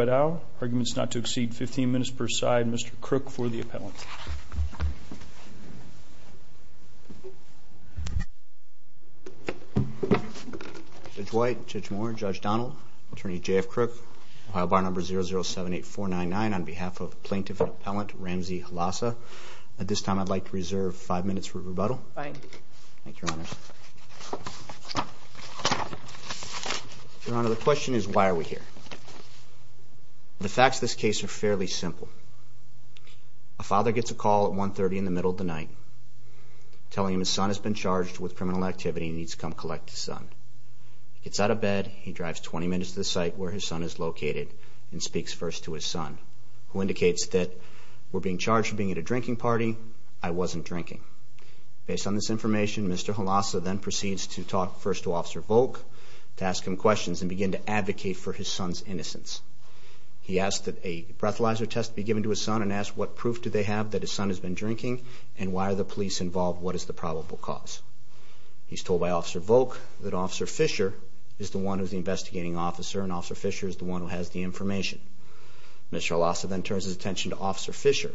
at Owl. Arguments not to exceed 15 minutes per side. Mr. Crook for the appellant. Judge White, Judge Moore, Judge Donnell, Attorney J.F. Crook. File bar number 0078499 on behalf of Plaintiff and Appellant Ramzi Halasah. At this time I'd like to reserve five minutes for rebuttal. Thank you, Your Honor. Your Honor, the question is why are we here? The facts of this case are fairly simple. A father gets a call at 1.30 in the middle of the night telling him his son has been charged with criminal activity and needs to come collect his son. He gets out of bed, he drives 20 minutes to the site where his son is located and speaks first to his son who indicates that we're being charged for being at a drinking party. I wasn't drinking. Based on this information, Mr. Halasah then proceeds to talk first to Officer Volk to ask him questions and begin to advocate for his son's innocence. He asks that a breathalyzer test be given to his son and asks what proof do they have that his son has been drinking and why are the police involved? What is the probable cause? He's told by Officer Volk that Officer Fisher is the one who's the investigating officer and Officer Fisher is the one who has the information. Mr. Halasah then turns his attention to Officer Fisher.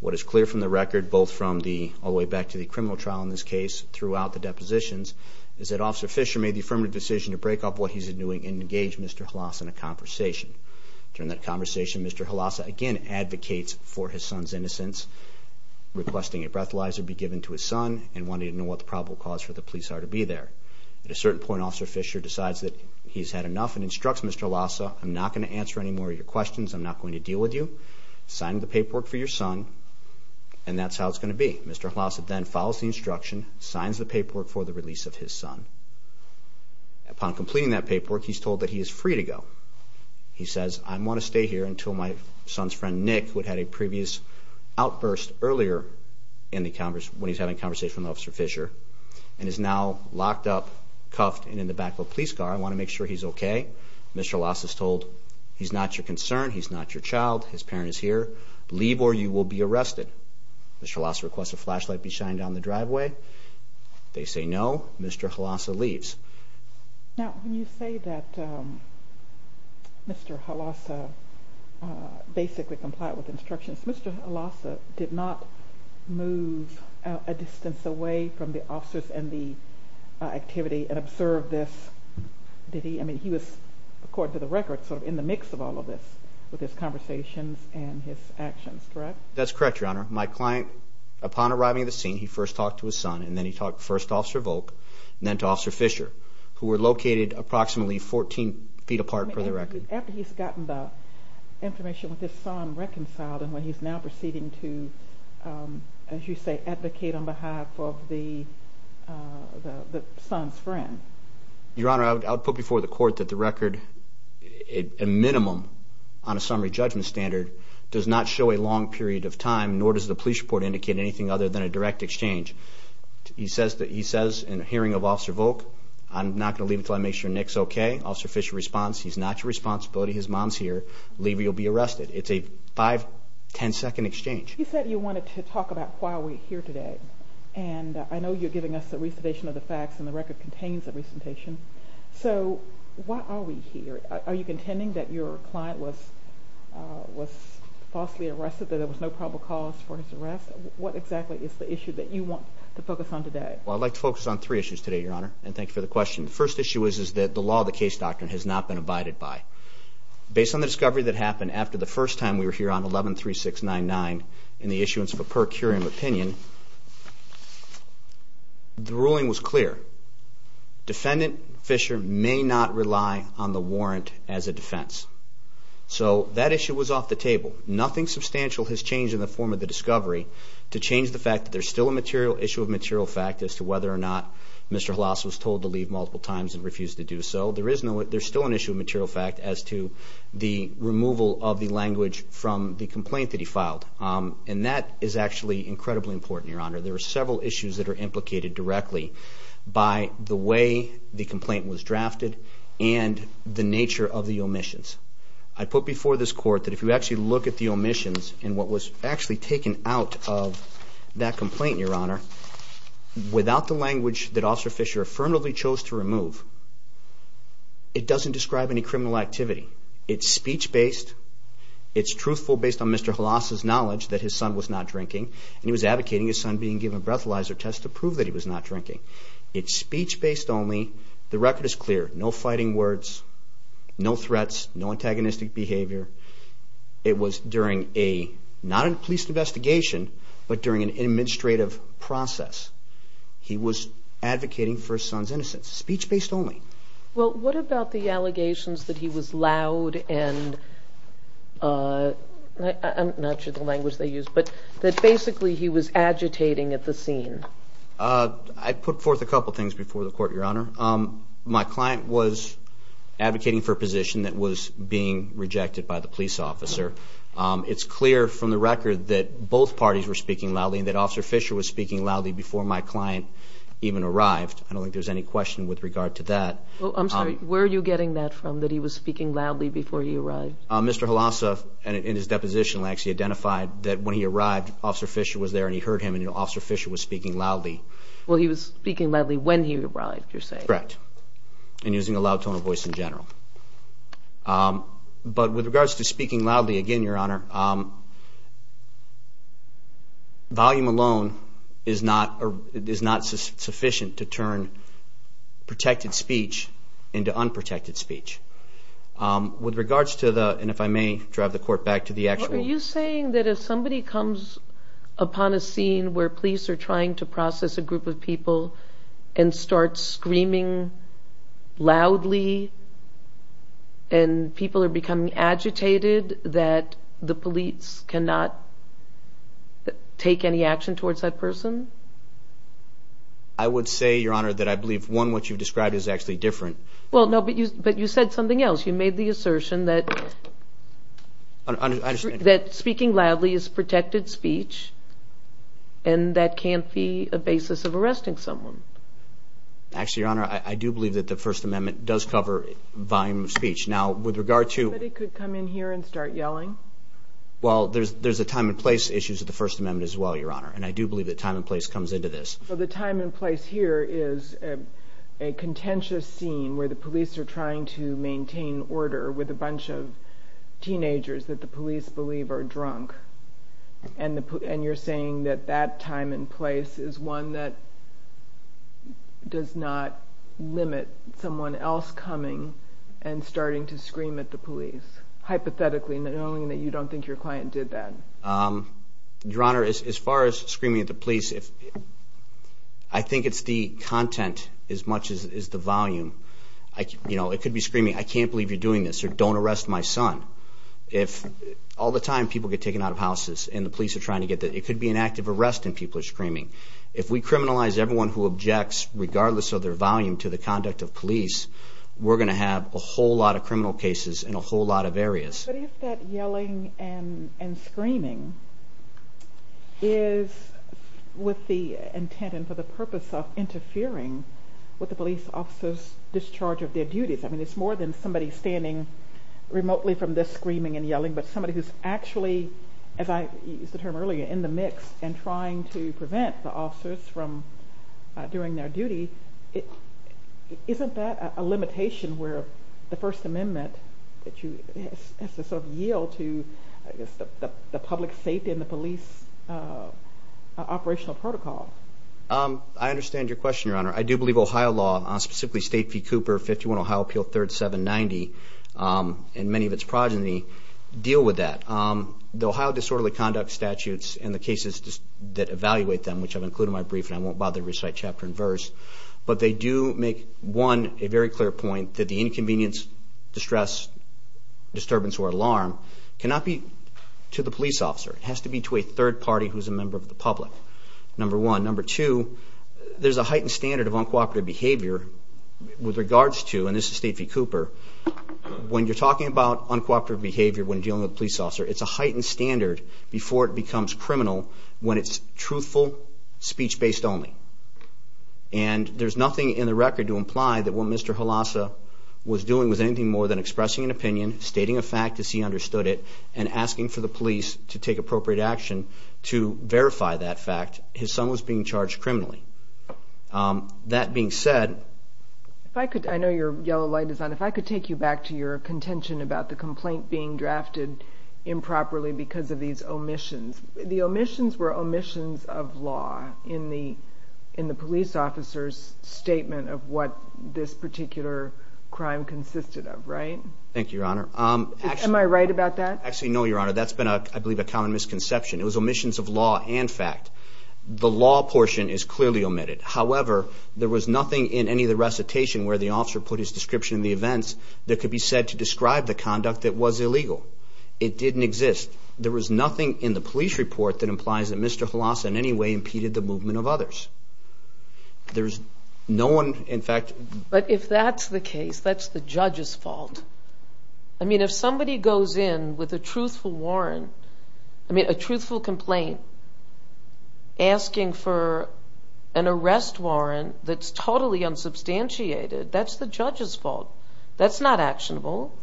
What is clear from the record, both from the all the way back to the criminal trial in this case, throughout the depositions, is that Officer Fisher made the affirmative decision to break up what he's doing and engage Mr. Halasah in a conversation. During that conversation, Mr. Halasah again advocates for his son's innocence, requesting a breathalyzer be given to his son and wanting to know what the probable cause for the police are to be there. At a certain point, Officer Fisher decides that he's had enough and instructs Mr. Halasah, I'm not going to answer any more of your questions. I'm not going to deal with you. Sign the paperwork for your son and that's how it's going to be. Mr. Halasah then follows the instruction, signs the paperwork for the release of his son. Upon completing that paperwork, he's told that he is free to go. He says, I want to stay here until my son's friend Nick, who had a previous outburst earlier when he was having a conversation with Officer Fisher, and is now locked up, cuffed, and in the back of a police car. I want to make sure he's okay. Mr. Halasah is told, he's not your concern. He's not your child. His parent is here. Leave or you will be arrested. Mr. Halasah requests a flashlight be shined down the driveway. They say no. Mr. Halasah leaves. Now, when you say that Mr. Halasah basically complied with instructions, Mr. Halasah did not move a distance away from the officers and the police. He was, according to the record, sort of in the mix of all of this with his conversations and his actions, correct? That's correct, Your Honor. My client, upon arriving at the scene, he first talked to his son and then he talked first to Officer Volk and then to Officer Fisher, who were located approximately 14 feet apart per the record. After he's gotten the information with his son reconciled and when he's now proceeding to advocate on behalf of the son's friend. Your Honor, I would put before the court that the record, a minimum on a summary judgment standard, does not show a long period of time, nor does the police report indicate anything other than a direct exchange. He says in a hearing of Officer Volk, I'm not going to leave until I make sure Nick's okay. Officer Fisher responds, he's not your responsibility. His mom's here. Leave or you'll be arrested. It's a five, ten second exchange. You said you wanted to talk about why we're here today. And I know you're giving us a recitation of the facts and the record contains a recitation. So, why are we here? Are you contending that your client was falsely arrested, that there was no probable cause for his arrest? What exactly is the issue that you want to focus on today? Well, I'd like to focus on three issues today, Your Honor, and thank you for the question. The first issue is that the law of the case doctrine has not been abided by. Based on the discovery that happened after the first time we were here on 11-3699 in the issuance of a per curiam opinion, the ruling was clear. Defendant Fisher may not rely on the warrant as a defense. So, that issue was off the table. Nothing substantial has changed in the form of the discovery to change the fact that there's still an issue of material fact as to whether or not Mr. Halassa was told to leave multiple times and refused to do so. There's still an issue of material fact as to the removal of the language from the complaint that he filed. And that is actually incredibly important, Your Honor. There are several issues that are implicated directly by the way the complaint was drafted and the nature of the omissions. I put before this Court that if you actually look at the omissions and what was actually taken out of that complaint, Your Honor, without the language that Officer Fisher affirmatively chose to remove, it doesn't describe any criminal activity. It's speech-based. It's truthful based on Mr. Halassa's knowledge that his son was not drinking, and he was advocating his son being given a breathalyzer test to prove that he was not drinking. It's speech-based only. The record is clear. No fighting words. No threats. No antagonistic behavior. It was during a, not a police investigation, but during an administrative process. He was advocating for his son's innocence. Speech-based only. Well, what about the allegations that he was loud and I'm not sure the language they used, but that basically he was agitating at the scene? I put forth a couple things before the Court, Your Honor. My client was advocating for a position that was being rejected by the police officer. It's clear from the record that both parties were speaking loudly and that Officer Fisher was speaking loudly before my client even arrived. I don't think there's any question with regard to that. Where are you getting that from, that he was speaking loudly before he arrived? Mr. Halassa, in his deposition, actually identified that when he arrived, Officer Fisher was there and he heard him, and Officer Fisher was speaking loudly. Well, he was speaking loudly when he arrived, you're saying? Correct. And using a loud tone of voice in general. But with regards to speaking loudly, again, Your Honor, volume alone is not sufficient to turn protected speech into unprotected speech. With regards to the... and if I may drive the Court back to the actual... Are you saying that if somebody comes upon a scene where police are trying to process a group of people and start screaming loudly and people are becoming agitated, that the police cannot take any action towards that person? I would say, Your Honor, that I believe, one, what you've described is actually different. But you said something else. You made the assertion that speaking loudly is protected speech and that can't be a basis of arresting someone. Actually, Your Honor, I do believe that the First Amendment does cover volume of speech. Now, with regard to... Well, there's a time and place issue to the First Amendment as well, Your Honor. And I do believe that time and place comes into this. A contentious scene where the police are trying to maintain order with a bunch of teenagers that the police believe are drunk. And you're saying that that time and place is one that does not limit someone else coming and starting to scream at the police. Hypothetically, knowing that you don't think your client did that. Your Honor, as far as screaming at the police, I think it's the content as much as the volume. It could be screaming, I can't believe you're doing this, or don't arrest my son. All the time, people get taken out of houses and the police are trying to get them. It could be an active arrest and people are screaming. If we criminalize everyone who objects, regardless of their volume, to the conduct of police, we're going to have a whole lot of criminal cases in a whole lot of areas. But if that yelling and screaming is with the intent and for the purpose of interfering with the police officers' discharge of their duties, I mean, it's more than somebody standing remotely from this screaming and yelling, but somebody who's actually, as I used the term earlier, in the mix and trying to prevent the officers from doing their duty, isn't that a limitation where the First Amendment has to sort of yield to the public safety and the police operational protocol? I understand your question, Your Honor. I do believe Ohio law, specifically State v. Cooper, 51 Ohio Appeal 3rd 790, and many of its progeny, deal with that. The Ohio disorderly conduct statutes and the cases that evaluate them, which I've included in my brief and I won't bother to recite chapter and verse, but they do make, one, a very clear point that the inconvenience, distress, disturbance, or alarm cannot be to the police officer. It has to be to a third party who's a member of the public. Number one. Number two, there's a heightened standard of uncooperative behavior with regards to, and this is State v. Cooper, when you're talking about uncooperative behavior when dealing with a police officer, it's a heightened standard before it becomes criminal when it's truthful, speech-based only. And there's nothing in the record to imply that what Mr. Halassa was doing was anything more than expressing an opinion, stating a fact as he understood it, and asking for the police to take appropriate action to verify that fact. His son was being charged criminally. That being said... I know your yellow light is on. If I could take you back to your contention about the complaint being drafted improperly because of these omissions. The omissions were omissions of law in the police officer's statement of what this particular crime consisted of, right? Thank you, Your Honor. Am I right about that? Actually, no, Your Honor. That's been, I believe, a common misconception. It was omissions of law and fact. The law portion is clearly omitted. However, there was nothing in any of the recitation where the officer put his description of the events that could be said to describe the conduct that was illegal. It didn't exist. There was nothing in the police report that implies that Mr. Halassa in any way impeded the movement of others. There's no one, in fact... But if that's the case, that's the judge's fault. I mean, if somebody goes in with a truthful warrant, I mean, a truthful complaint, asking for an arrest warrant that's totally unsubstantiated, that's the judge's fault. That's not actionable.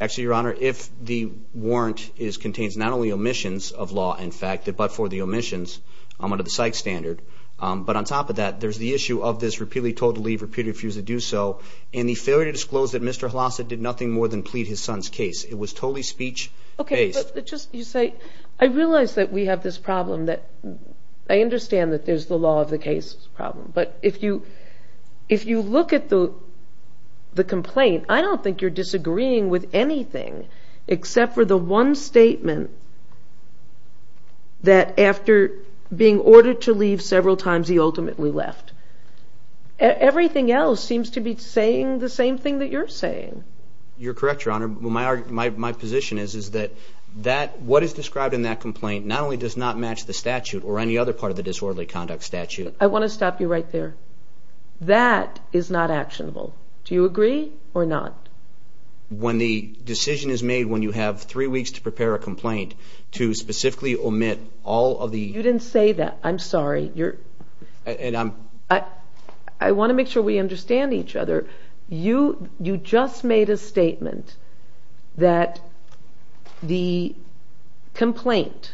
Actually, Your Honor, if the warrant contains not only omissions of law and fact, but for the omissions under the psych standard, but on top of that, there's the issue of this repeatedly told to leave, repeatedly refused to do so, and the failure to disclose that Mr. Halassa did nothing more than plead his son's case. It was totally speech-based. I realize that we have this problem. I understand that there's the law of the case problem, but if you look at the complaint, I don't think you're disagreeing with anything except for the one statement that after being ordered to leave several times he ultimately left. Everything else seems to be saying the same thing that you're saying. You're correct, Your Honor. My position is that what is described in that complaint not only does not match the statute or any other part of the disorderly conduct statute... I want to stop you right there. That is not actionable. Do you agree or not? When the decision is made when you have three weeks to prepare a complaint to specifically omit all of the... You didn't say that. I'm sorry. I want to make sure we understand each other. You just made a statement that the complaint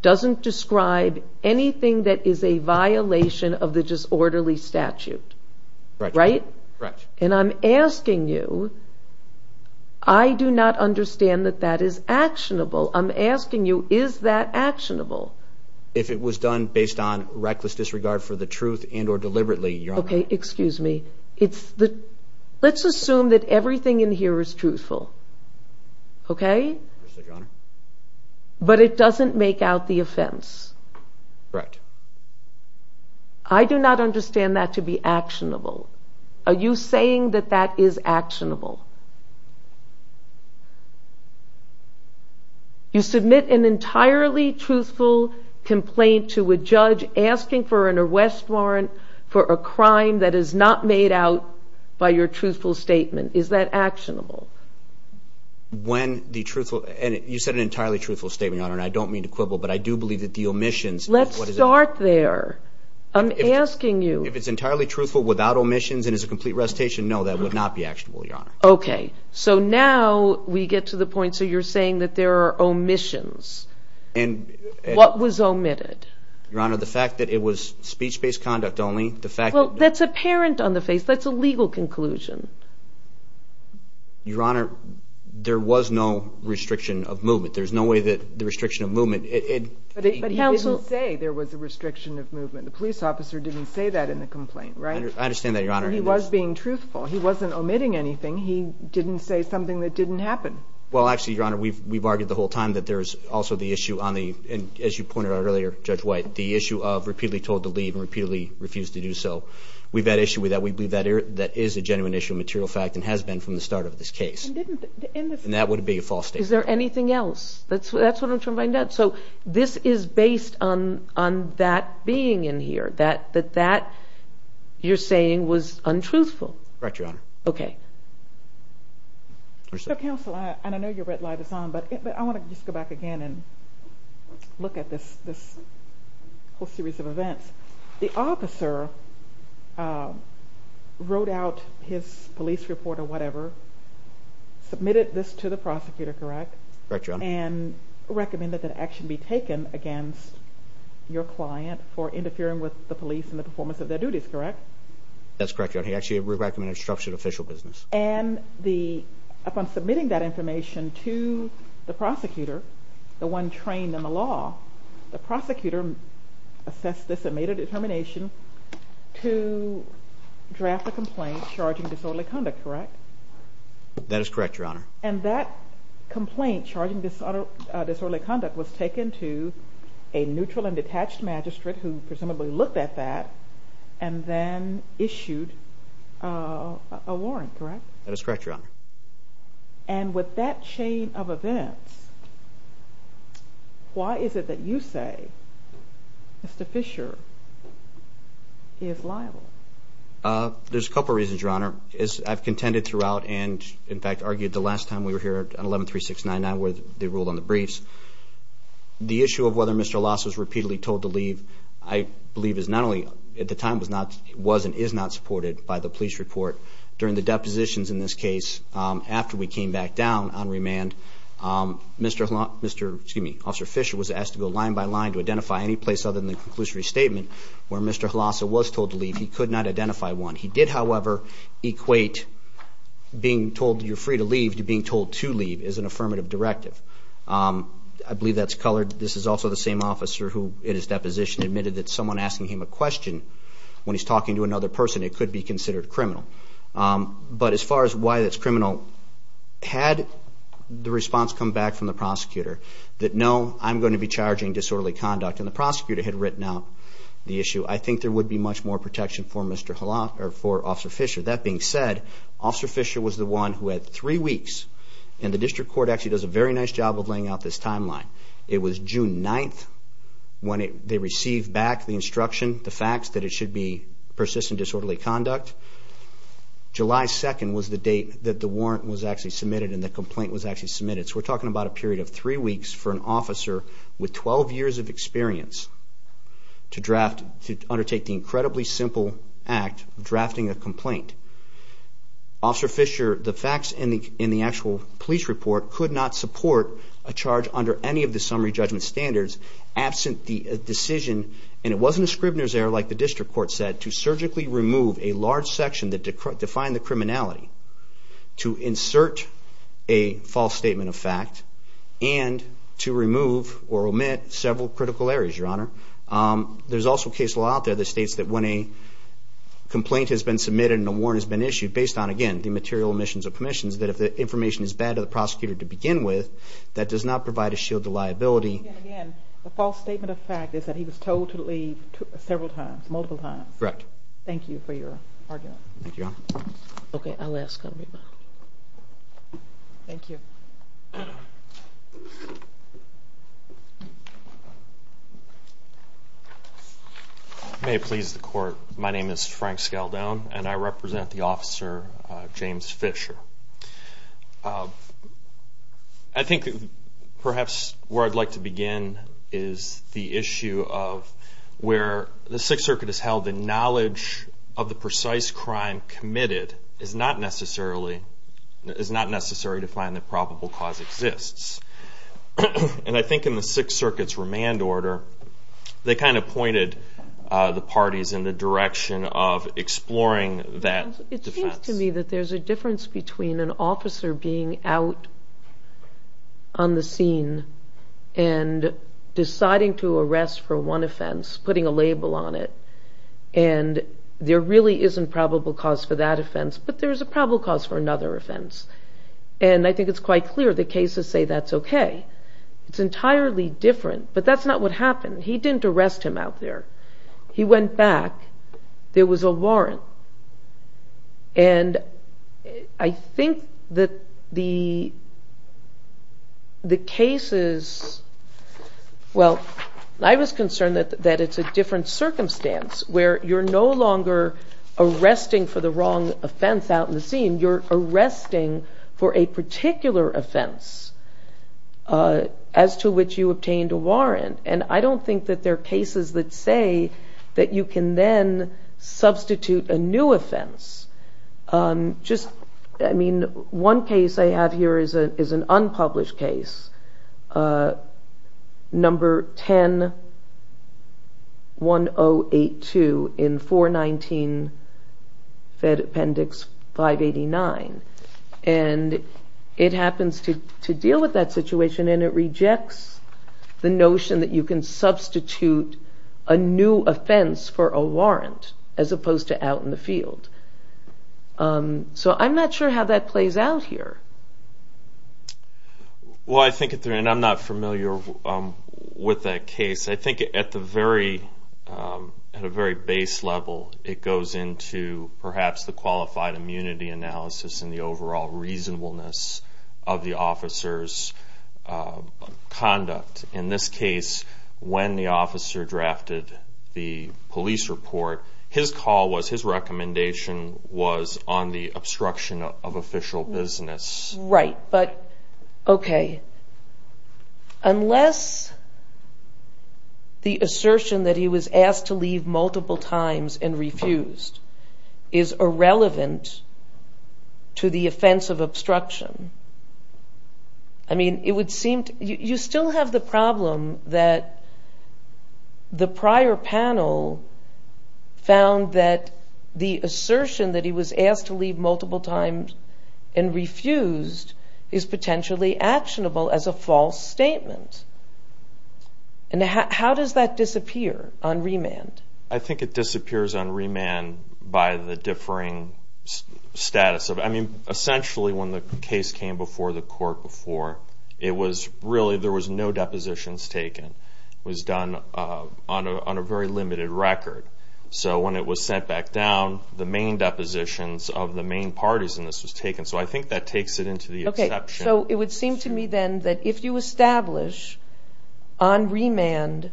doesn't describe anything that is a violation of the disorderly statute. Right? And I'm asking you I do not understand that that is actionable. I'm asking you is that actionable? If it was done based on reckless disregard for the truth and or deliberately, Your Honor. Okay, excuse me. Let's assume that everything in here is truthful. Okay? Yes, Your Honor. But it doesn't make out the truth. I do not understand that to be actionable. Are you saying that that is actionable? You submit an entirely truthful complaint to a judge asking for an arrest warrant for a crime that is not made out by your truthful statement. Is that actionable? When the truthful... You said an entirely truthful statement, Your Honor, and I don't mean to quibble, but I do not mean to quibble. If it's entirely truthful without omissions and is a complete recitation, no, that would not be actionable, Your Honor. Okay, so now we get to the point where you're saying that there are omissions. What was omitted? Your Honor, the fact that it was speech-based conduct only... Well, that's apparent on the face. That's a legal conclusion. Your Honor, there was no restriction of movement. There's no way that the restriction of movement... But he didn't say there was a restriction of movement. The police officer didn't say that in the complaint, right? I understand that, Your Honor. He was being truthful. He wasn't omitting anything. He didn't say something that didn't happen. Well, actually, Your Honor, we've argued the whole time that there's also the issue on the... And as you pointed out earlier, Judge White, the issue of repeatedly told to leave and repeatedly refused to do so. We've had issue with that. We believe that is a genuine issue, a material fact, and has been from the start of this case. And that would be a false statement. Is there anything else? That's based on that being in here, that you're saying was untruthful. Correct, Your Honor. Okay. Counsel, I know your red light is on, but I want to just go back again and look at this whole series of events. The officer wrote out his police report or whatever, submitted this to the prosecutor, correct? Correct, Your Honor. And recommended that action be taken against your client for interfering with the police and the performance of their duties, correct? That's correct, Your Honor. He actually recommended a structured official business. And the... Upon submitting that information to the prosecutor, the one trained in the law, the prosecutor assessed this and made a determination to draft a complaint charging disorderly conduct, correct? That is correct, Your Honor. And that disorderly conduct was taken to a neutral and detached magistrate who presumably looked at that and then issued a warrant, correct? That is correct, Your Honor. And with that chain of events, why is it that you say Mr. Fisher is liable? There's a couple reasons, Your Honor. I've contended throughout and, in fact, argued the last time we were here at 11-3699 where they ruled on the briefs. The issue of whether Mr. Hlasa was repeatedly told to leave, I believe, is not only... At the time, it was and is not supported by the police report. During the depositions in this case, after we came back down on remand, Officer Fisher was asked to go line by line to identify any place other than the conclusory statement where Mr. Hlasa was told to leave. He could not identify one. He did, however, equate being told you're free to leave to being told to leave as an affirmative directive. I believe that's colored. This is also the same officer who, in his deposition, admitted that someone asking him a question when he's talking to another person, it could be considered criminal. But as far as why it's criminal, had the response come back from the prosecutor that, no, I'm going to be charging disorderly conduct, and the prosecutor had written out the issue, I think there would be much more protection for Officer Fisher. That being said, Officer Fisher was the one who had three weeks, and the district court actually does a very nice job of laying out this timeline. It was June 9th when they received back the instruction, the facts, that it should be persistent disorderly conduct. July 2nd was the date that the warrant was actually submitted and the complaint was actually submitted. So we're talking about a period of three weeks for an officer with 12 years of experience to undertake the incredibly simple act of Officer Fisher, the facts in the actual police report could not support a charge under any of the summary judgment standards absent the decision, and it wasn't a Scribner's error like the district court said, to surgically remove a large section that defined the criminality, to insert a false statement of fact, and to remove or omit several critical areas, Your Honor. There's also a case law out there that states that when a complaint has been submitted and a warrant has been issued, based on, again, the material omissions of permissions, that if the information is bad to the prosecutor to begin with, that does not provide a shield to liability. Again, the false statement of fact is that he was told to leave several times, multiple times. Correct. Thank you for your argument. Thank you, Your Honor. Okay, I'll ask. Thank you. May it please the court, my name is Frank Scaldone and I represent the officer James Fisher. I think, perhaps, where I'd like to begin is the issue of where the Sixth Circuit has held the knowledge of the precise crime committed is not necessary to find the probable cause. And I think in the Sixth Circuit's remand order, they kind of pointed the parties in the direction of exploring that defense. It seems to me that there's a difference between an officer being out on the scene and deciding to arrest for one offense, putting a label on it, and there really isn't probable cause for that offense, but there's a probable cause for another offense. And I think it's quite clear the cases say that's okay. It's entirely different, but that's not what happened. He didn't arrest him out there. He went back. There was a warrant. And I think that the cases, well, I was concerned that it's a different circumstance where you're no longer arresting for the wrong offense out on the scene. You're arresting for a particular offense as to which you obtained a warrant. And I don't think that there are cases that say that you can then substitute a new offense. One case I have here is an unpublished case, number 10-1082 in 419 Fed Appendix 589. And it happens to deal with that situation and it rejects the notion that you can substitute a new offense for a warrant as opposed to out in the field. So I'm not sure how that plays out here. Well, I think at the end, I'm not familiar with that case. I think at the very base level, it goes into perhaps the qualified immunity analysis and the overall reasonableness of the officer's conduct. In this case, when the officer drafted the police report, his call was, his recommendation was on the obstruction of official business. Right, but okay, unless the assertion that he was asked to leave multiple times and refused is irrelevant to the offense of obstruction. I mean, it would seem, you still have the problem that the prior panel found that the assertion that he was asked to leave multiple times and refused is potentially actionable as a false statement. And how does that disappear on remand? I think it disappears on remand by the differing status of, I mean, essentially when the case came before the court before, it was really, there was no depositions taken. It was done on a very limited record. So when it was sent back down, the main depositions of the main parties in this was taken. So I think that takes it into the exception. So it would seem to me then that if you establish on remand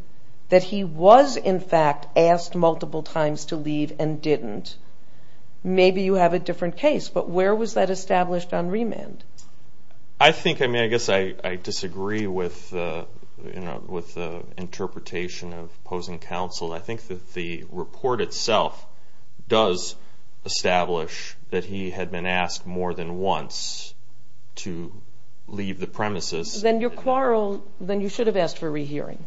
that he was in fact asked multiple times to leave and didn't, maybe you have a different case. But where was that established on remand? I think, I mean, I guess I disagree with the interpretation of opposing counsel. I think that the report itself does establish that he had been asked more than once to leave the premises. Then your quarrel, then you should have asked for rehearing,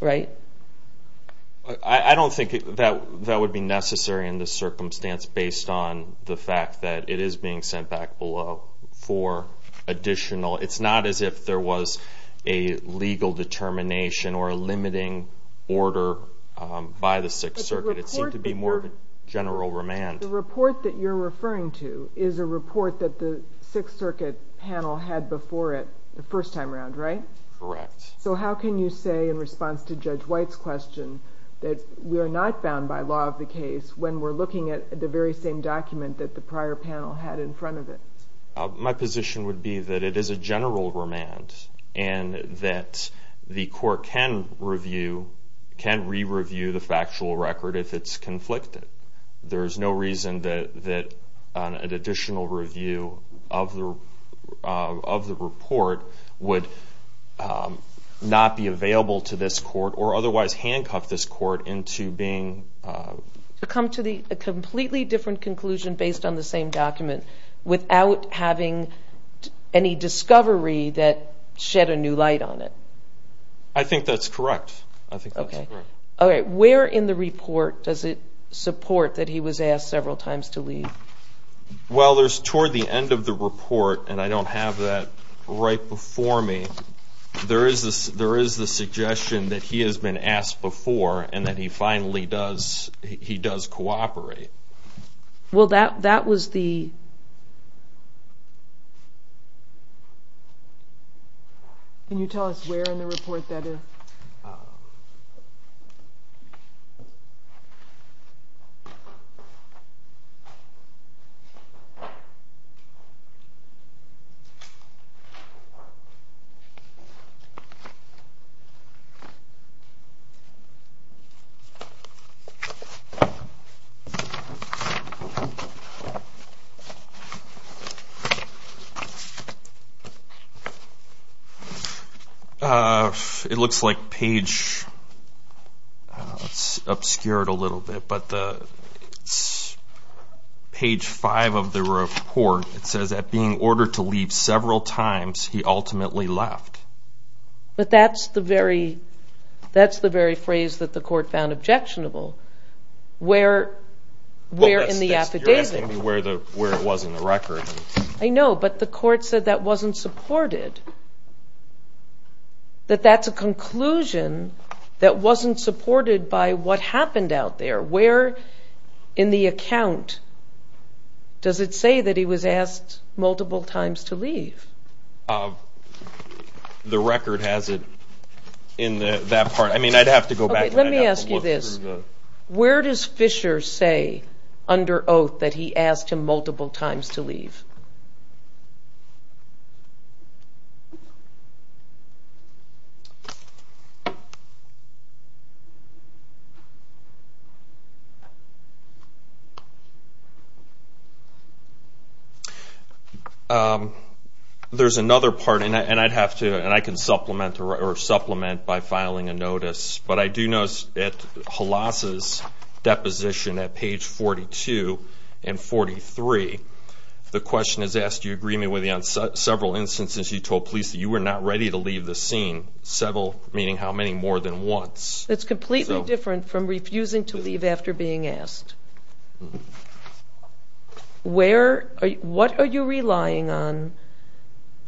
right? I don't think that would be necessary in this circumstance based on the fact that it is being sent back below for additional, it's not as if there was a legal determination or a limiting order by the Sixth Circuit. It seemed to be more of a general remand. The report that you're referring to is a report that the Sixth Circuit panel had before it the first time around, right? Correct. So how can you say in response to Judge White's question that we're not bound by law of the case when we're looking at the very same document that the prior panel had in front of it? My position would be that it is a general remand and that the court can review, can re-review the factual record if it's reasoned that an additional review of the report would not be available to this court or otherwise handcuff this court into being... To come to a completely different conclusion based on the same document without having any discovery that shed a new light on it. I think that's correct. I think that's correct. Okay, where in the report does it say how many additional times to leave? Well, there's toward the end of the report, and I don't have that right before me, there is the suggestion that he has been asked before and that he finally does cooperate. Well, that was the... Can you tell us where in the report that is? Uh... It's obscured a little bit, but page 5 of the report says that being ordered to leave several times, he ultimately left. But that's the very phrase that the court found objectionable. You're asking me where it was in the record. I know, but the court said that wasn't supported. That that's a conclusion that wasn't supported by what happened out there. Where in the account does it say that he was asked multiple times to leave? The record has it in that part. I mean, I'd have to go back... Okay, let me ask you this. Where does Fisher say under oath that he asked him multiple times to leave?............ There's another part, and I can supplement by filing a notice, but I do notice at Halas' deposition at page 42 and 43, the question is, do you agree with me on several instances you told police that you were not ready to leave the scene? Several, meaning how many more than once? That's completely different from refusing to leave after being asked. What are you relying on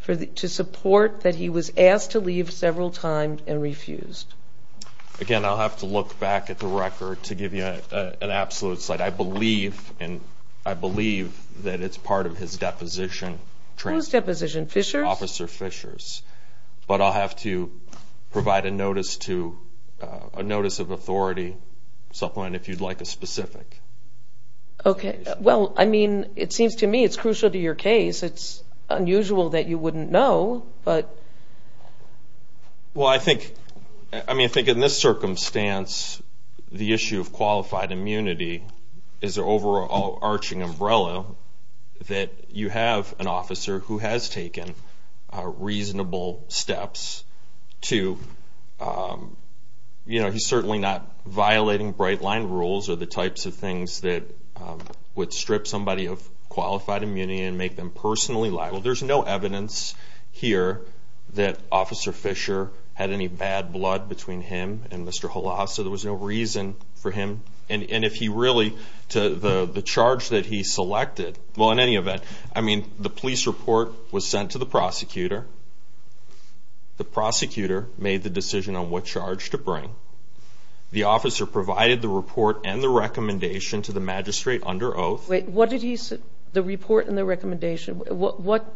to support that he was asked to leave several times and refused? Again, I'll have to look back at the record to give you an absolute slide. I believe that it's part of his deposition. Whose deposition? Fisher's? Officer Fisher's. But I'll have to provide a notice of authority, supplement if you'd like a specific. Okay. Well, I mean, it seems to me it's crucial to your case. It's unusual that you wouldn't know, but... Well, I think in this circumstance, the is an overarching umbrella that you have an officer who has taken reasonable steps to, you know, he's certainly not violating bright-line rules or the types of things that would strip somebody of qualified immunity and make them personally liable. There's no evidence here that Officer Fisher had any bad blood between him and Mr. Halas, so there was no reason for him. And if he really, the charge that he selected, well, in any event, I mean, the police report was sent to the prosecutor. The prosecutor made the decision on what charge to bring. The officer provided the report and the recommendation to the magistrate under oath. Wait, what did he say? The report and the recommendation. What...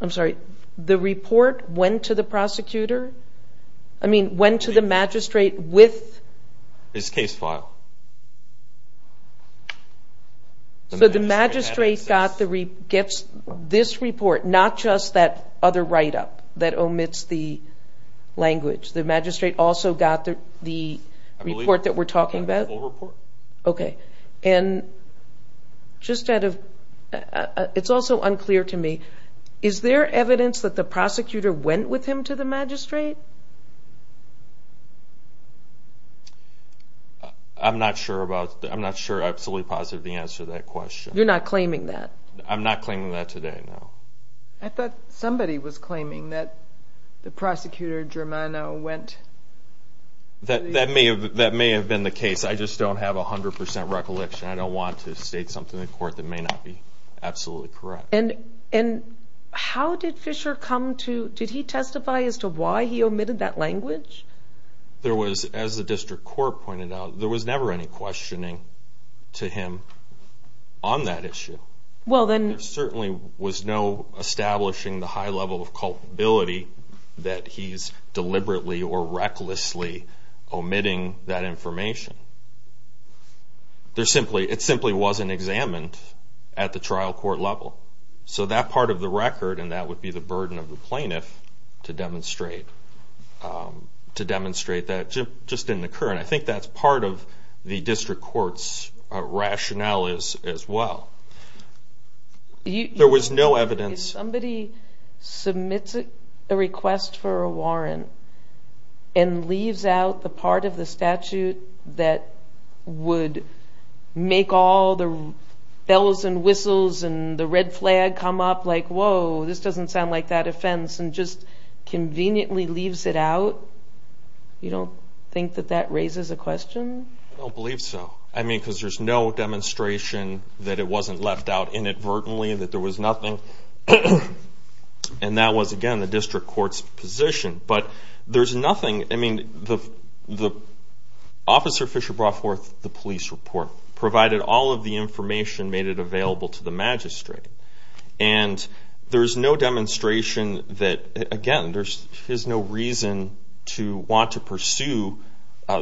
I'm sorry. The report went to the prosecutor? I mean, went to the magistrate with... His case file. So the magistrate gets this report, not just that other write-up that omits the language. The magistrate also got the report that we're talking about? Okay. And just out of... It's also unclear to me, is there evidence that the prosecutor went with him to the magistrate? I'm not sure about... I'm not sure I'm absolutely positive the answer to that question. You're not claiming that? I'm not claiming that today, no. I thought somebody was claiming that the prosecutor, Germano, went... That may have been the case. I just don't have 100% recollection. I don't want to state something in court that may not be absolutely correct. And how did Fisher come to... Did he testify as to why he omitted that language? As the district court pointed out, there was never any questioning to him on that issue. There certainly was no establishing the high level of culpability that he's deliberately or recklessly omitting that information. It simply wasn't examined at the trial court level. So that part of the record, and that would be the burden of the plaintiff to demonstrate that just didn't occur. And I think that's part of the district court's rationale as well. There was no evidence... If somebody submits a request for a warrant and leaves out the part of the statute that would make all the bells and whistles and the red flag come up, like, whoa, this doesn't sound like that offense, and just conveniently leaves it out, you don't think that that raises a question? I don't believe so. Because there's no demonstration that it wasn't left out inadvertently, that there was nothing. And that was, again, the district court's position. But there's nothing... Officer Fisher brought forth the police report, provided all of the information, made it available to the magistrate. And there's no demonstration that, again, there's no reason to want to pursue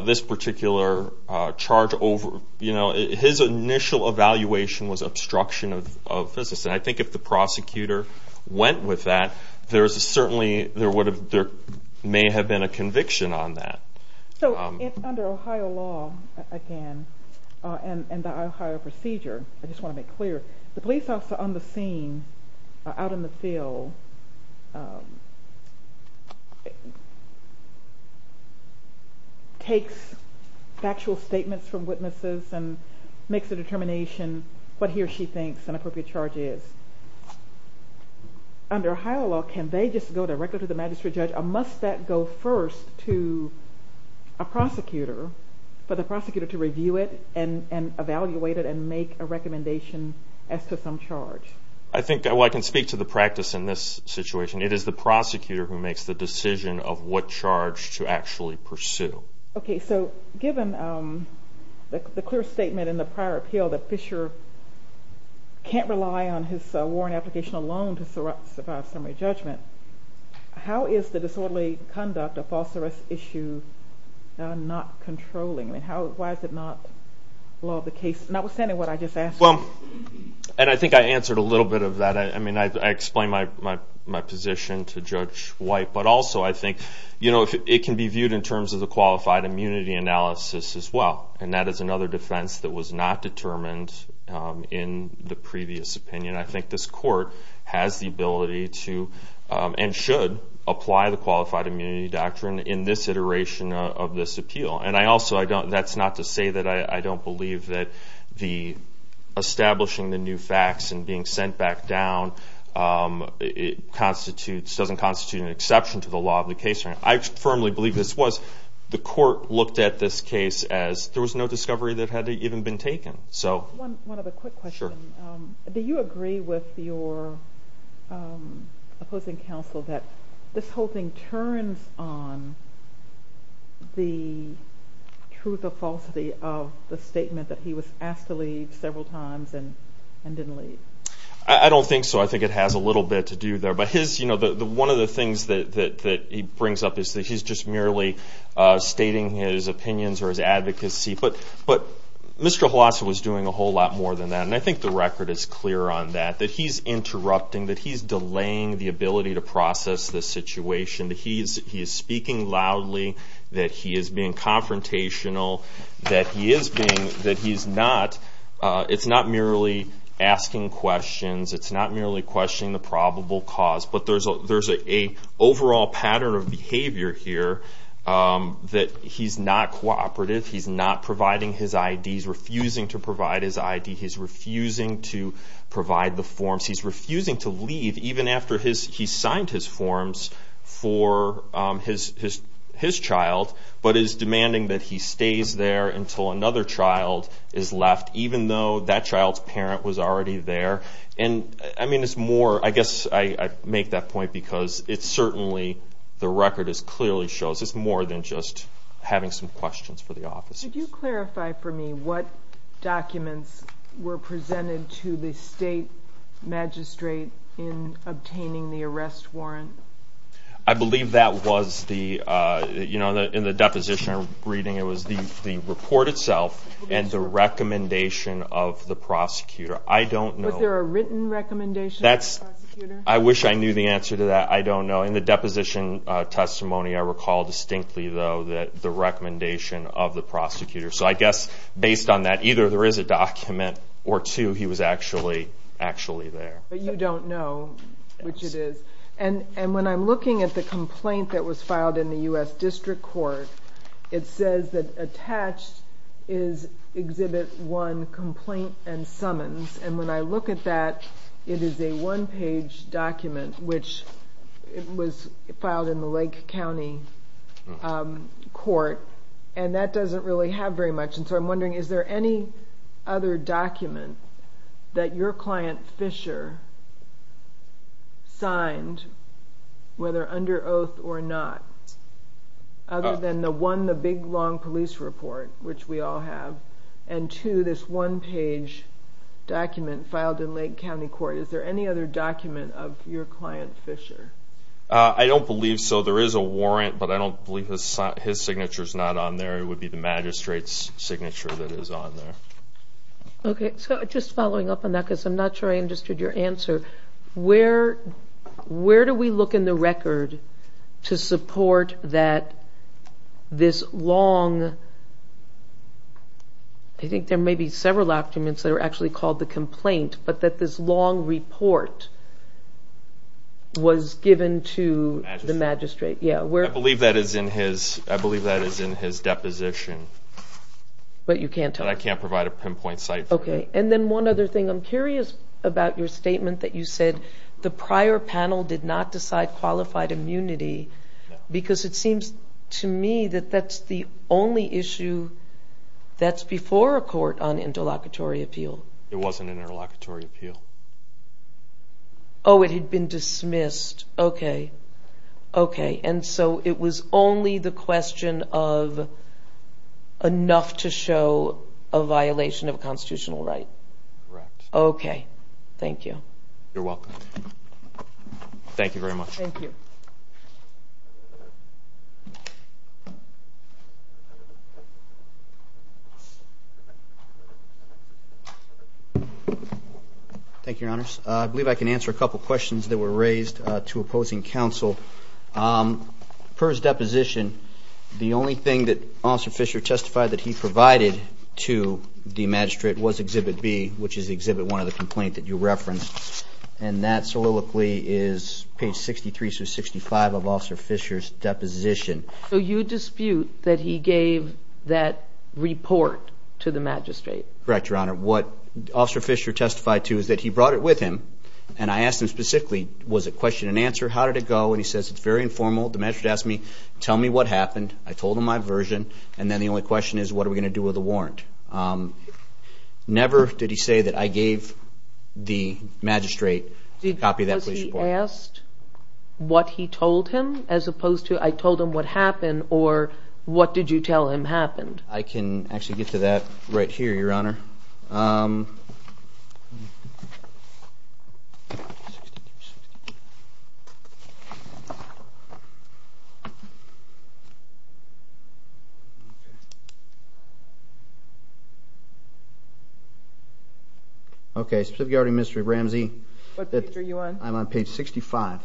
this particular charge over... His initial evaluation was obstruction of business. And I think if the prosecutor went with that, there may have been a conviction on that. So, under Ohio law, again, and the Ohio procedure, I just want to make clear, the police officer on the scene, out in the field, takes factual statements from witnesses and makes a determination what he or she thinks an appropriate charge is. Under Ohio law, can they just go directly to the magistrate judge, or must that go first to a prosecutor, for the prosecutor to review it and evaluate it and make a recommendation as to some charge? I can speak to the practice in this situation. It is the prosecutor who makes the decision of what charge to actually pursue. Given the clear statement in the prior appeal that Fisher can't rely on his warrant application alone to survive summary judgment, how is the disorderly conduct of false arrest issue not controlling? Why is it not law of the case, notwithstanding what I just asked? I think I answered a little bit of that. I explained my position to Judge White, but also I think it can be viewed in terms of the qualified immunity analysis as well. And that is another defense that was not determined in the previous opinion. I think this should apply the qualified immunity doctrine in this iteration of this appeal. That's not to say that I don't believe that establishing the new facts and being sent back down doesn't constitute an exception to the law of the case. I firmly believe this was. The court looked at this case as there was no discovery that had even been taken. One other quick question. Do you agree with your opposing counsel that this whole thing turns on the truth or falsity of the statement that he was asked to leave several times and didn't leave? I don't think so. I think it has a little bit to do there. But one of the things that he brings up is that he's just merely stating his opinions or his advocacy. But Mr. Huassa was doing a whole lot more than that. And I think the record is clear on that. That he's interrupting. That he's delaying the ability to process this situation. That he is speaking loudly. That he is being confrontational. That he is being...that he's not...it's not merely asking questions. It's not merely questioning the probable cause. But there's an overall pattern of behavior here that he's not cooperative. He's not providing his ID. He's refusing to provide his ID. He's refusing to provide the forms. He's refusing to leave even after he's signed his forms for his child. But is demanding that he stays there until another child is left. Even though that child's parent was already there. And I mean it's more... I guess I make that point because it's certainly...the record clearly shows it's more than just having some questions for the officers. Did you clarify for me what documents were presented to the state magistrate in obtaining the arrest warrant? I believe that was the... you know in the deposition I'm reading it was the report itself and the recommendation of the prosecutor. I don't know... Was there a written recommendation of the prosecutor? I wish I knew the answer to that. I don't know. In the deposition testimony I recall distinctly though the recommendation of the prosecutor. So I guess based on that either there is a document or two he was actually there. But you don't know which it is. And when I'm looking at the complaint that was filed in the U.S. District Court it says that attached is exhibit one complaint and summons. And when I look at that it is a one page document which was filed in the Lake County Court and that doesn't really have very much and so I'm wondering is there any other document that your client Fisher signed whether under oath or not? Other than the one the big long police report which we all have and two this one page document filed in Lake County Court. Is there any other document of your client Fisher? I don't believe so. There is a warrant but I don't believe his signature is not on there. It would be the magistrate's signature that is on there. Okay. So just following up on that because I'm not sure I understood your answer. Where do we look in the record to support that this long I think there may be several documents that are actually called the complaint but that this long report was given to the magistrate. I believe that is in his deposition but I can't provide a pinpoint site for it. And then one other thing I'm curious about your statement that you said the prior panel did not decide qualified immunity because it seems to me that that's the only issue that's before a court on interlocutory appeal. It wasn't an interlocutory appeal. Oh it had been dismissed. Okay. And so it was only the question of enough to show a violation of a constitutional right. Correct. Okay. Thank you. Thank you Your Honors. I believe I can answer a couple questions that were raised to opposing counsel. Per his deposition the only thing that Officer Fisher testified that he provided to the magistrate was Exhibit B which is Exhibit 1 of the complaint that you referenced and that solilocally is page 63 through 65 of Officer Fisher's deposition. So you dispute that he gave that report to the magistrate? Correct Your Honor. What Officer Fisher testified to is that he brought it with him and I asked him specifically was it question and answer? How did it go? And he says it's very informal. The magistrate asked me tell me what happened. I told him my version and then the only question is what are we going to do with the warrant? Never did he say that I gave the magistrate a copy of that police report. Was he asked what he told him as opposed to I told him what happened or what did you tell him happened? I can actually get to that right here Your Honor. Okay, specifically regarding Mr. Ramsey What page are you on? I'm on page 65 of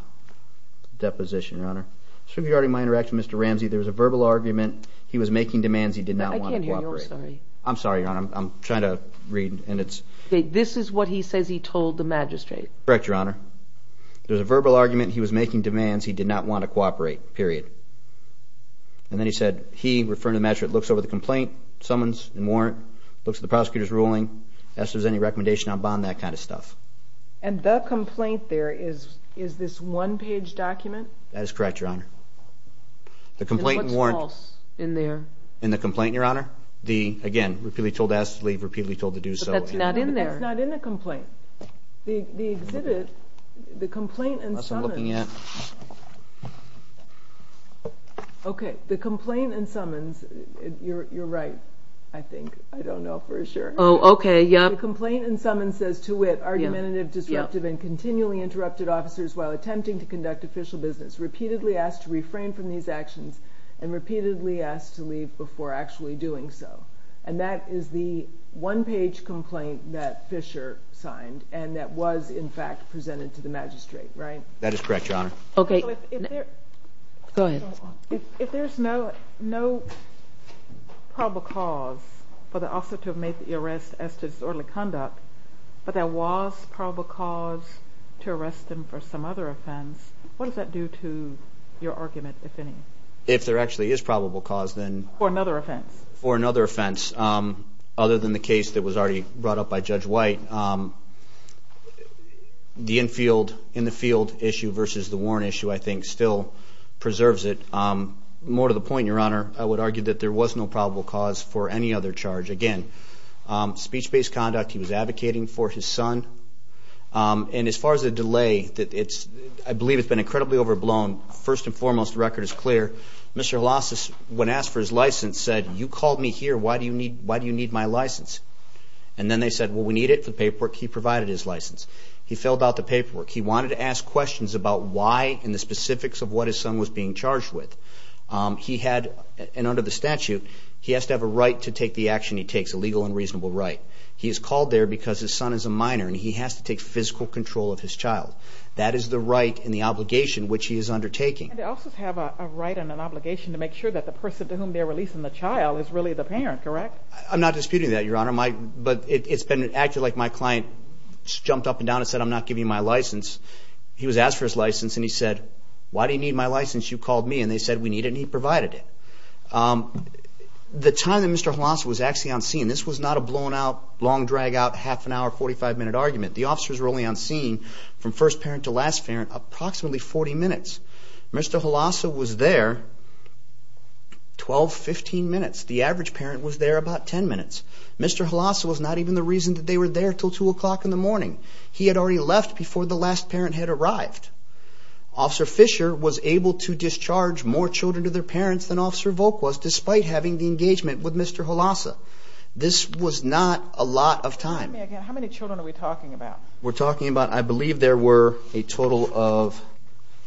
the deposition Your Honor. Specifically regarding my interaction with Mr. Ramsey there was a verbal argument he was making demands he did not want to cooperate. I'm sorry Your Honor, I'm trying to read and it's... This is what he says he told the magistrate. Correct Your Honor. There was a verbal argument he was making demands he did not want to cooperate. Period. And then he said he, referring to the magistrate, looks over the complaint summons and warrant, looks at the prosecutor's ruling, asks if there's any recommendation on bond, that kind of stuff. And the complaint there is this one page document? That is correct Your Honor. And what's false in there? In the complaint Your Honor? The, again, repeatedly told to ask to leave, repeatedly told to do so. But that's not in there. It's not in the complaint. The exhibit, the complaint and summons... That's what I'm looking at. Okay, the complaint and summons, you're right I think, I don't know for sure. Oh, okay, yep. The complaint and summons says to wit, argumentative, disruptive, and continually interrupted officers while attempting to refrain from these actions and repeatedly asked to leave before actually doing so. And that is the one page complaint that Fisher signed and that was in fact presented to the magistrate, right? That is correct Your Honor. Okay. If there's no probable cause for the officer to have made the arrest as to disorderly conduct, but there was probable cause to arrest him for some other offense, what does that do to your argument, if any? If there actually is probable cause, then... For another offense? For another offense. Other than the case that was already brought up by Judge White. The infield, in the field issue versus the warrant issue, I think, still preserves it. More to the point, Your Honor, I would argue that there was no probable cause for any other charge. Again, speech-based conduct, he was advocating for his son. And as far as the delay, I believe it's been incredibly overblown. First and foremost, the record is clear. Mr. Holosis, when asked for his license, said, you called me here, why do you need my license? And then they said, well, we need it for the paperwork. He provided his license. He filled out the paperwork. He wanted to ask questions about why and the specifics of what his son was being charged with. He had, and under the statute, he has to have a right to take the action he takes, a legal and reasonable right. He is called there because his son is a minor and he has to take physical control of his child. That is the right and the obligation which he is undertaking. And the officers have a right and an obligation to make sure that the person to whom they're releasing the child is really the parent, correct? I'm not disputing that, Your Honor. But it's been acted like my client jumped up and down and said, I'm not giving you my license. He was asked for his license and he said, why do you need my license? You called me and they said, we need it, and he provided it. The time that Mr. Holosis was actually on scene, this was not a blown-out, long-drag-out, half-an-hour, 45-minute argument. The officers were only on scene from first parent to last parent approximately 40 minutes. Mr. Holosis was there 12, 15 minutes. The average parent was there about 10 minutes. Mr. Holosis was not even the reason that they were there until 2 o'clock in the morning. He had already left before the last parent had arrived. Officer Fisher was able to discharge more children to their parents than Officer Volk was, despite having the engagement with Mr. Holosis. This was not a lot of time. I believe there were a total of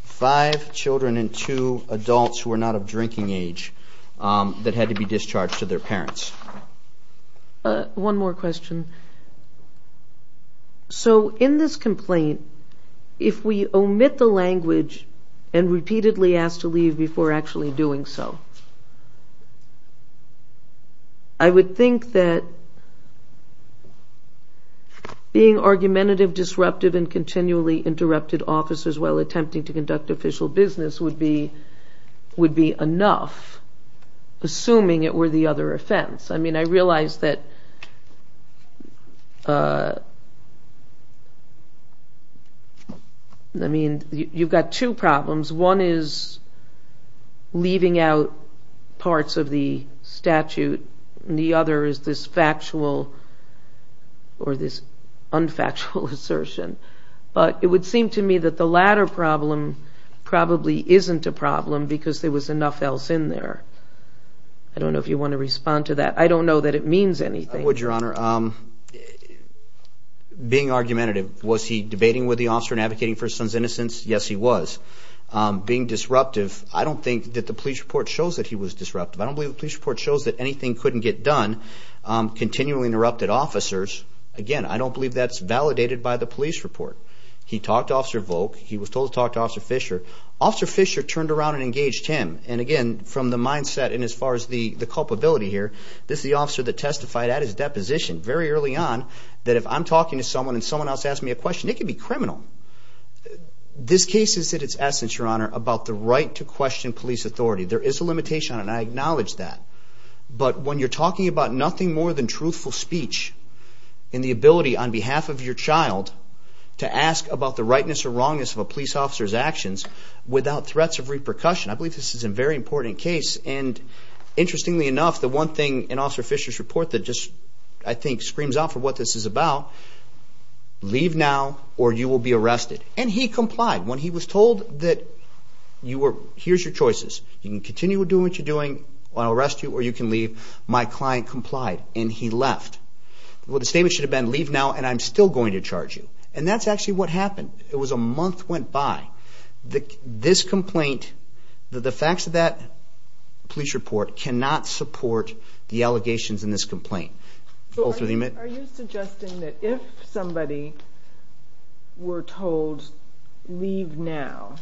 5 children and 2 adults who were not of drinking age that had to be discharged to their parents. One more question. So in this complaint, if we omit the language and repeatedly ask to leave before actually doing so, I would think that being argumentative, disruptive, and continually interrupted officers while attempting to conduct official business would be enough, assuming it were the other offense. I realize that you've got two problems. One is leaving out parts of the statute. The other is this factual or this unfactual assertion. But it would seem to me that the latter problem probably isn't a problem because there was enough else in there. I don't know if you want to respond to that. I don't know that it means anything. I would, Your Honor. Being argumentative, was he debating with the officer and advocating for his son's innocence? Yes, he was. Being disruptive, I don't think that the police report shows that he was disruptive. I don't believe the police report shows that anything couldn't get done. Continually interrupted officers, again, I don't believe that's validated by the police report. He talked to Officer Volk. He was told to talk to Officer Fisher. Officer Fisher turned around and engaged him. And again, from the mindset and as far as the culpability here, this is the officer that testified at his deposition very early on that if I'm talking to someone and someone else asks me a question, it could be criminal. This case is at its essence, Your Honor, about the right to question police authority. There is a limitation on it, and I acknowledge that. But when you're talking about nothing more than truthful speech and the ability on behalf of your child to ask about the rightness or wrongness of a police officer's actions without threats of repercussion, I believe this is a very important case. And interestingly enough, the one thing in Officer Fisher's report that just, I think, screams out for what this is about, leave now or you will be arrested. And he complied. When he was told that here's your choices. You can continue doing what you're doing. I'll arrest you or you can leave. My client complied. And he left. Well, the statement should have been leave now and I'm still going to charge you. And that's actually what happened. It was a month went by. This complaint, the facts of that police report cannot support the allegations in this complaint. Are you suggesting that if somebody were told leave now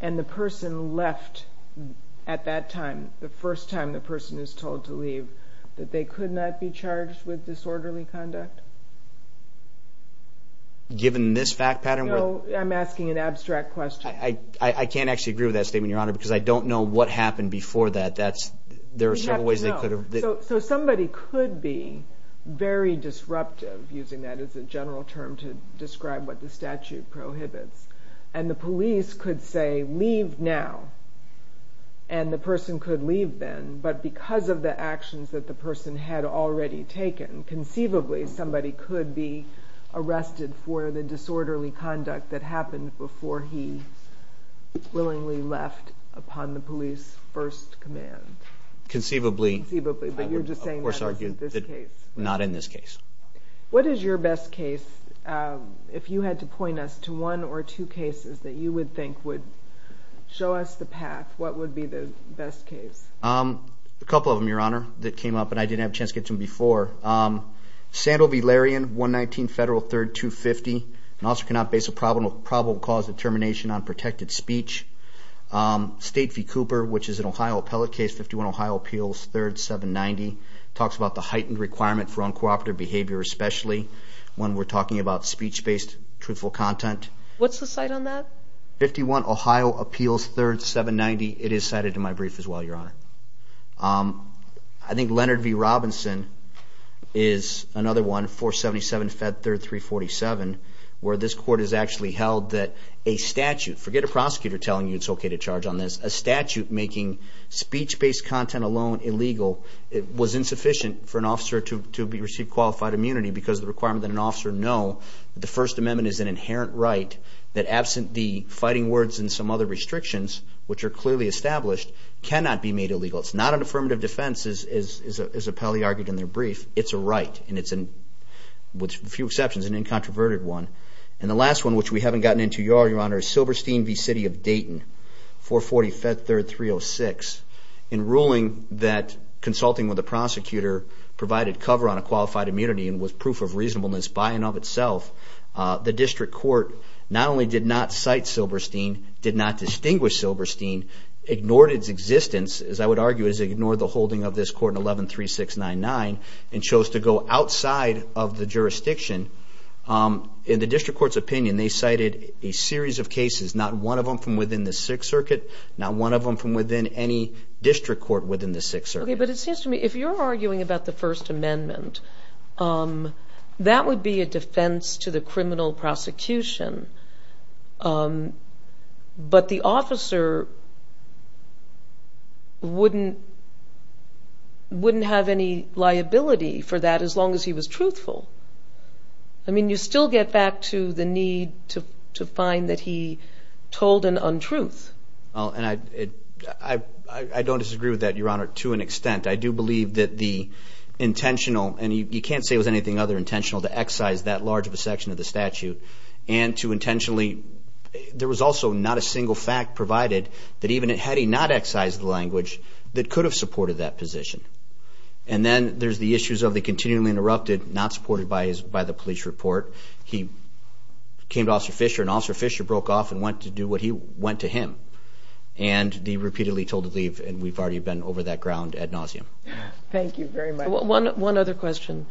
and the person left at that time, the first time the person is told to leave, that they could not be charged with disorderly conduct? Given this fact pattern? I'm asking an abstract question. I can't actually agree with that statement, Your Honor, because I don't know what happened before that. So somebody could be very disruptive, using that as a general term to describe what the statute prohibits, and the police could say leave now. And the person could leave then, but because of the actions that the person had already taken, conceivably somebody could be arrested for the disorderly conduct that happened before he willingly left upon the police first command. Conceivably. But you're just saying that wasn't this case. Not in this case. What is your best case? If you had to point us to one or two cases that you would think would show us the path, what would be the best case? A couple of them, Your Honor, that came up and I didn't have a chance to get to them before. Sandal v. Larian, 119 Federal 3rd, 250. An officer cannot base a probable cause of termination on state v. Cooper, which is an Ohio appellate case, 51 Ohio Appeals 3rd, 790. Talks about the heightened requirement for uncooperative behavior, especially when we're talking about speech-based truthful content. What's the cite on that? 51 Ohio Appeals 3rd, 790. It is cited in my brief as well, Your Honor. I think Leonard v. Robinson is another one, 477 Fed 3rd, 347, where this court has actually held that a statute, forget a prosecutor telling you it's okay to charge on this, a statute making speech-based content alone illegal was insufficient for an officer to receive qualified immunity because of the requirement that an officer know that the First Amendment is an inherent right that, absent the fighting words and some other restrictions, which are clearly established, cannot be made illegal. It's not an affirmative defense, as Appellee argued in their brief. It's a right. With a few exceptions, an incontroverted one. And the last one, which we cited is in the City of Dayton, 440 Fed 3rd, 306. In ruling that consulting with a prosecutor provided cover on a qualified immunity and was proof of reasonableness by and of itself, the District Court not only did not cite Silberstein, did not distinguish Silberstein, ignored its existence, as I would argue, ignored the holding of this court in 113699, and chose to go outside of the jurisdiction. In the District Court's opinion, they cited a series of cases, not one of them from within the Sixth Circuit, not one of them from within any District Court within the Sixth Circuit. But it seems to me, if you're arguing about the First Amendment, that would be a defense to the criminal prosecution. But the officer wouldn't have any liability for that as long as he was truthful. I mean, you still get back to the need to find that he told an untruth. I don't disagree with that, Your Honor, to an extent. I do believe that the intentional, and you can't say it was anything other than intentional, to excise that large of a section of the statute, and to intentionally, there was also not a single fact provided that even had he not excised the language that could have supported that position. And then there's the issues of the continually interrupted, not supported by the police report. He came to Officer Fisher, and Officer Fisher broke off and went to do what he went to him. And he repeatedly told to leave, and we've already been over that ground ad nauseum. Thank you very much. One other question.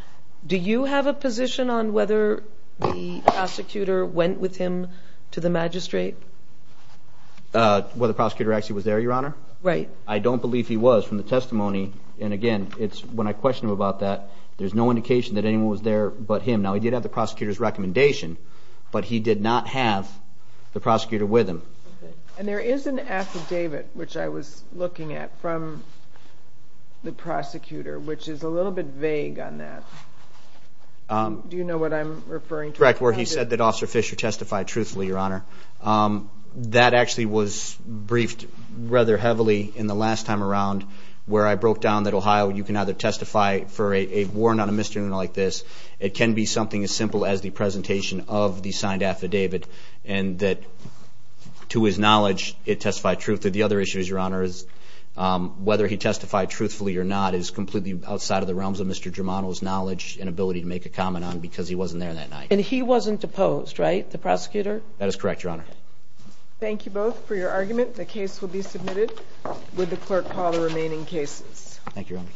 Do you have a position on whether the prosecutor went with him to the magistrate? Whether the prosecutor actually was there, Your Honor? Right. I don't believe he was from the testimony, and again, when I question him about that, there's no indication that anyone was there but him. Now, he did have the prosecutor's recommendation, but he did not have the prosecutor with him. And there is an affidavit, which I was looking at, from the prosecutor, which is a little bit vague on that. Do you know what I'm referring to? Correct, where he said that Officer Fisher testified truthfully, Your Honor. That actually was briefed rather heavily in the last time around, where I broke down that, Ohio, you can either testify for a warrant on a misdemeanor like this. It can be something as simple as the presentation of the signed affidavit, and that, to his knowledge, it testified truthfully. The other issue, Your Honor, is whether he testified truthfully or not is completely outside of the realms of Mr. Germano's knowledge and ability to make a comment on, because he wasn't there that night. And he wasn't deposed, right? The prosecutor? That is correct, Your Honor. Thank you both for your argument. The case will be submitted. Would the clerk call the remaining cases? Thank you, Your Honor.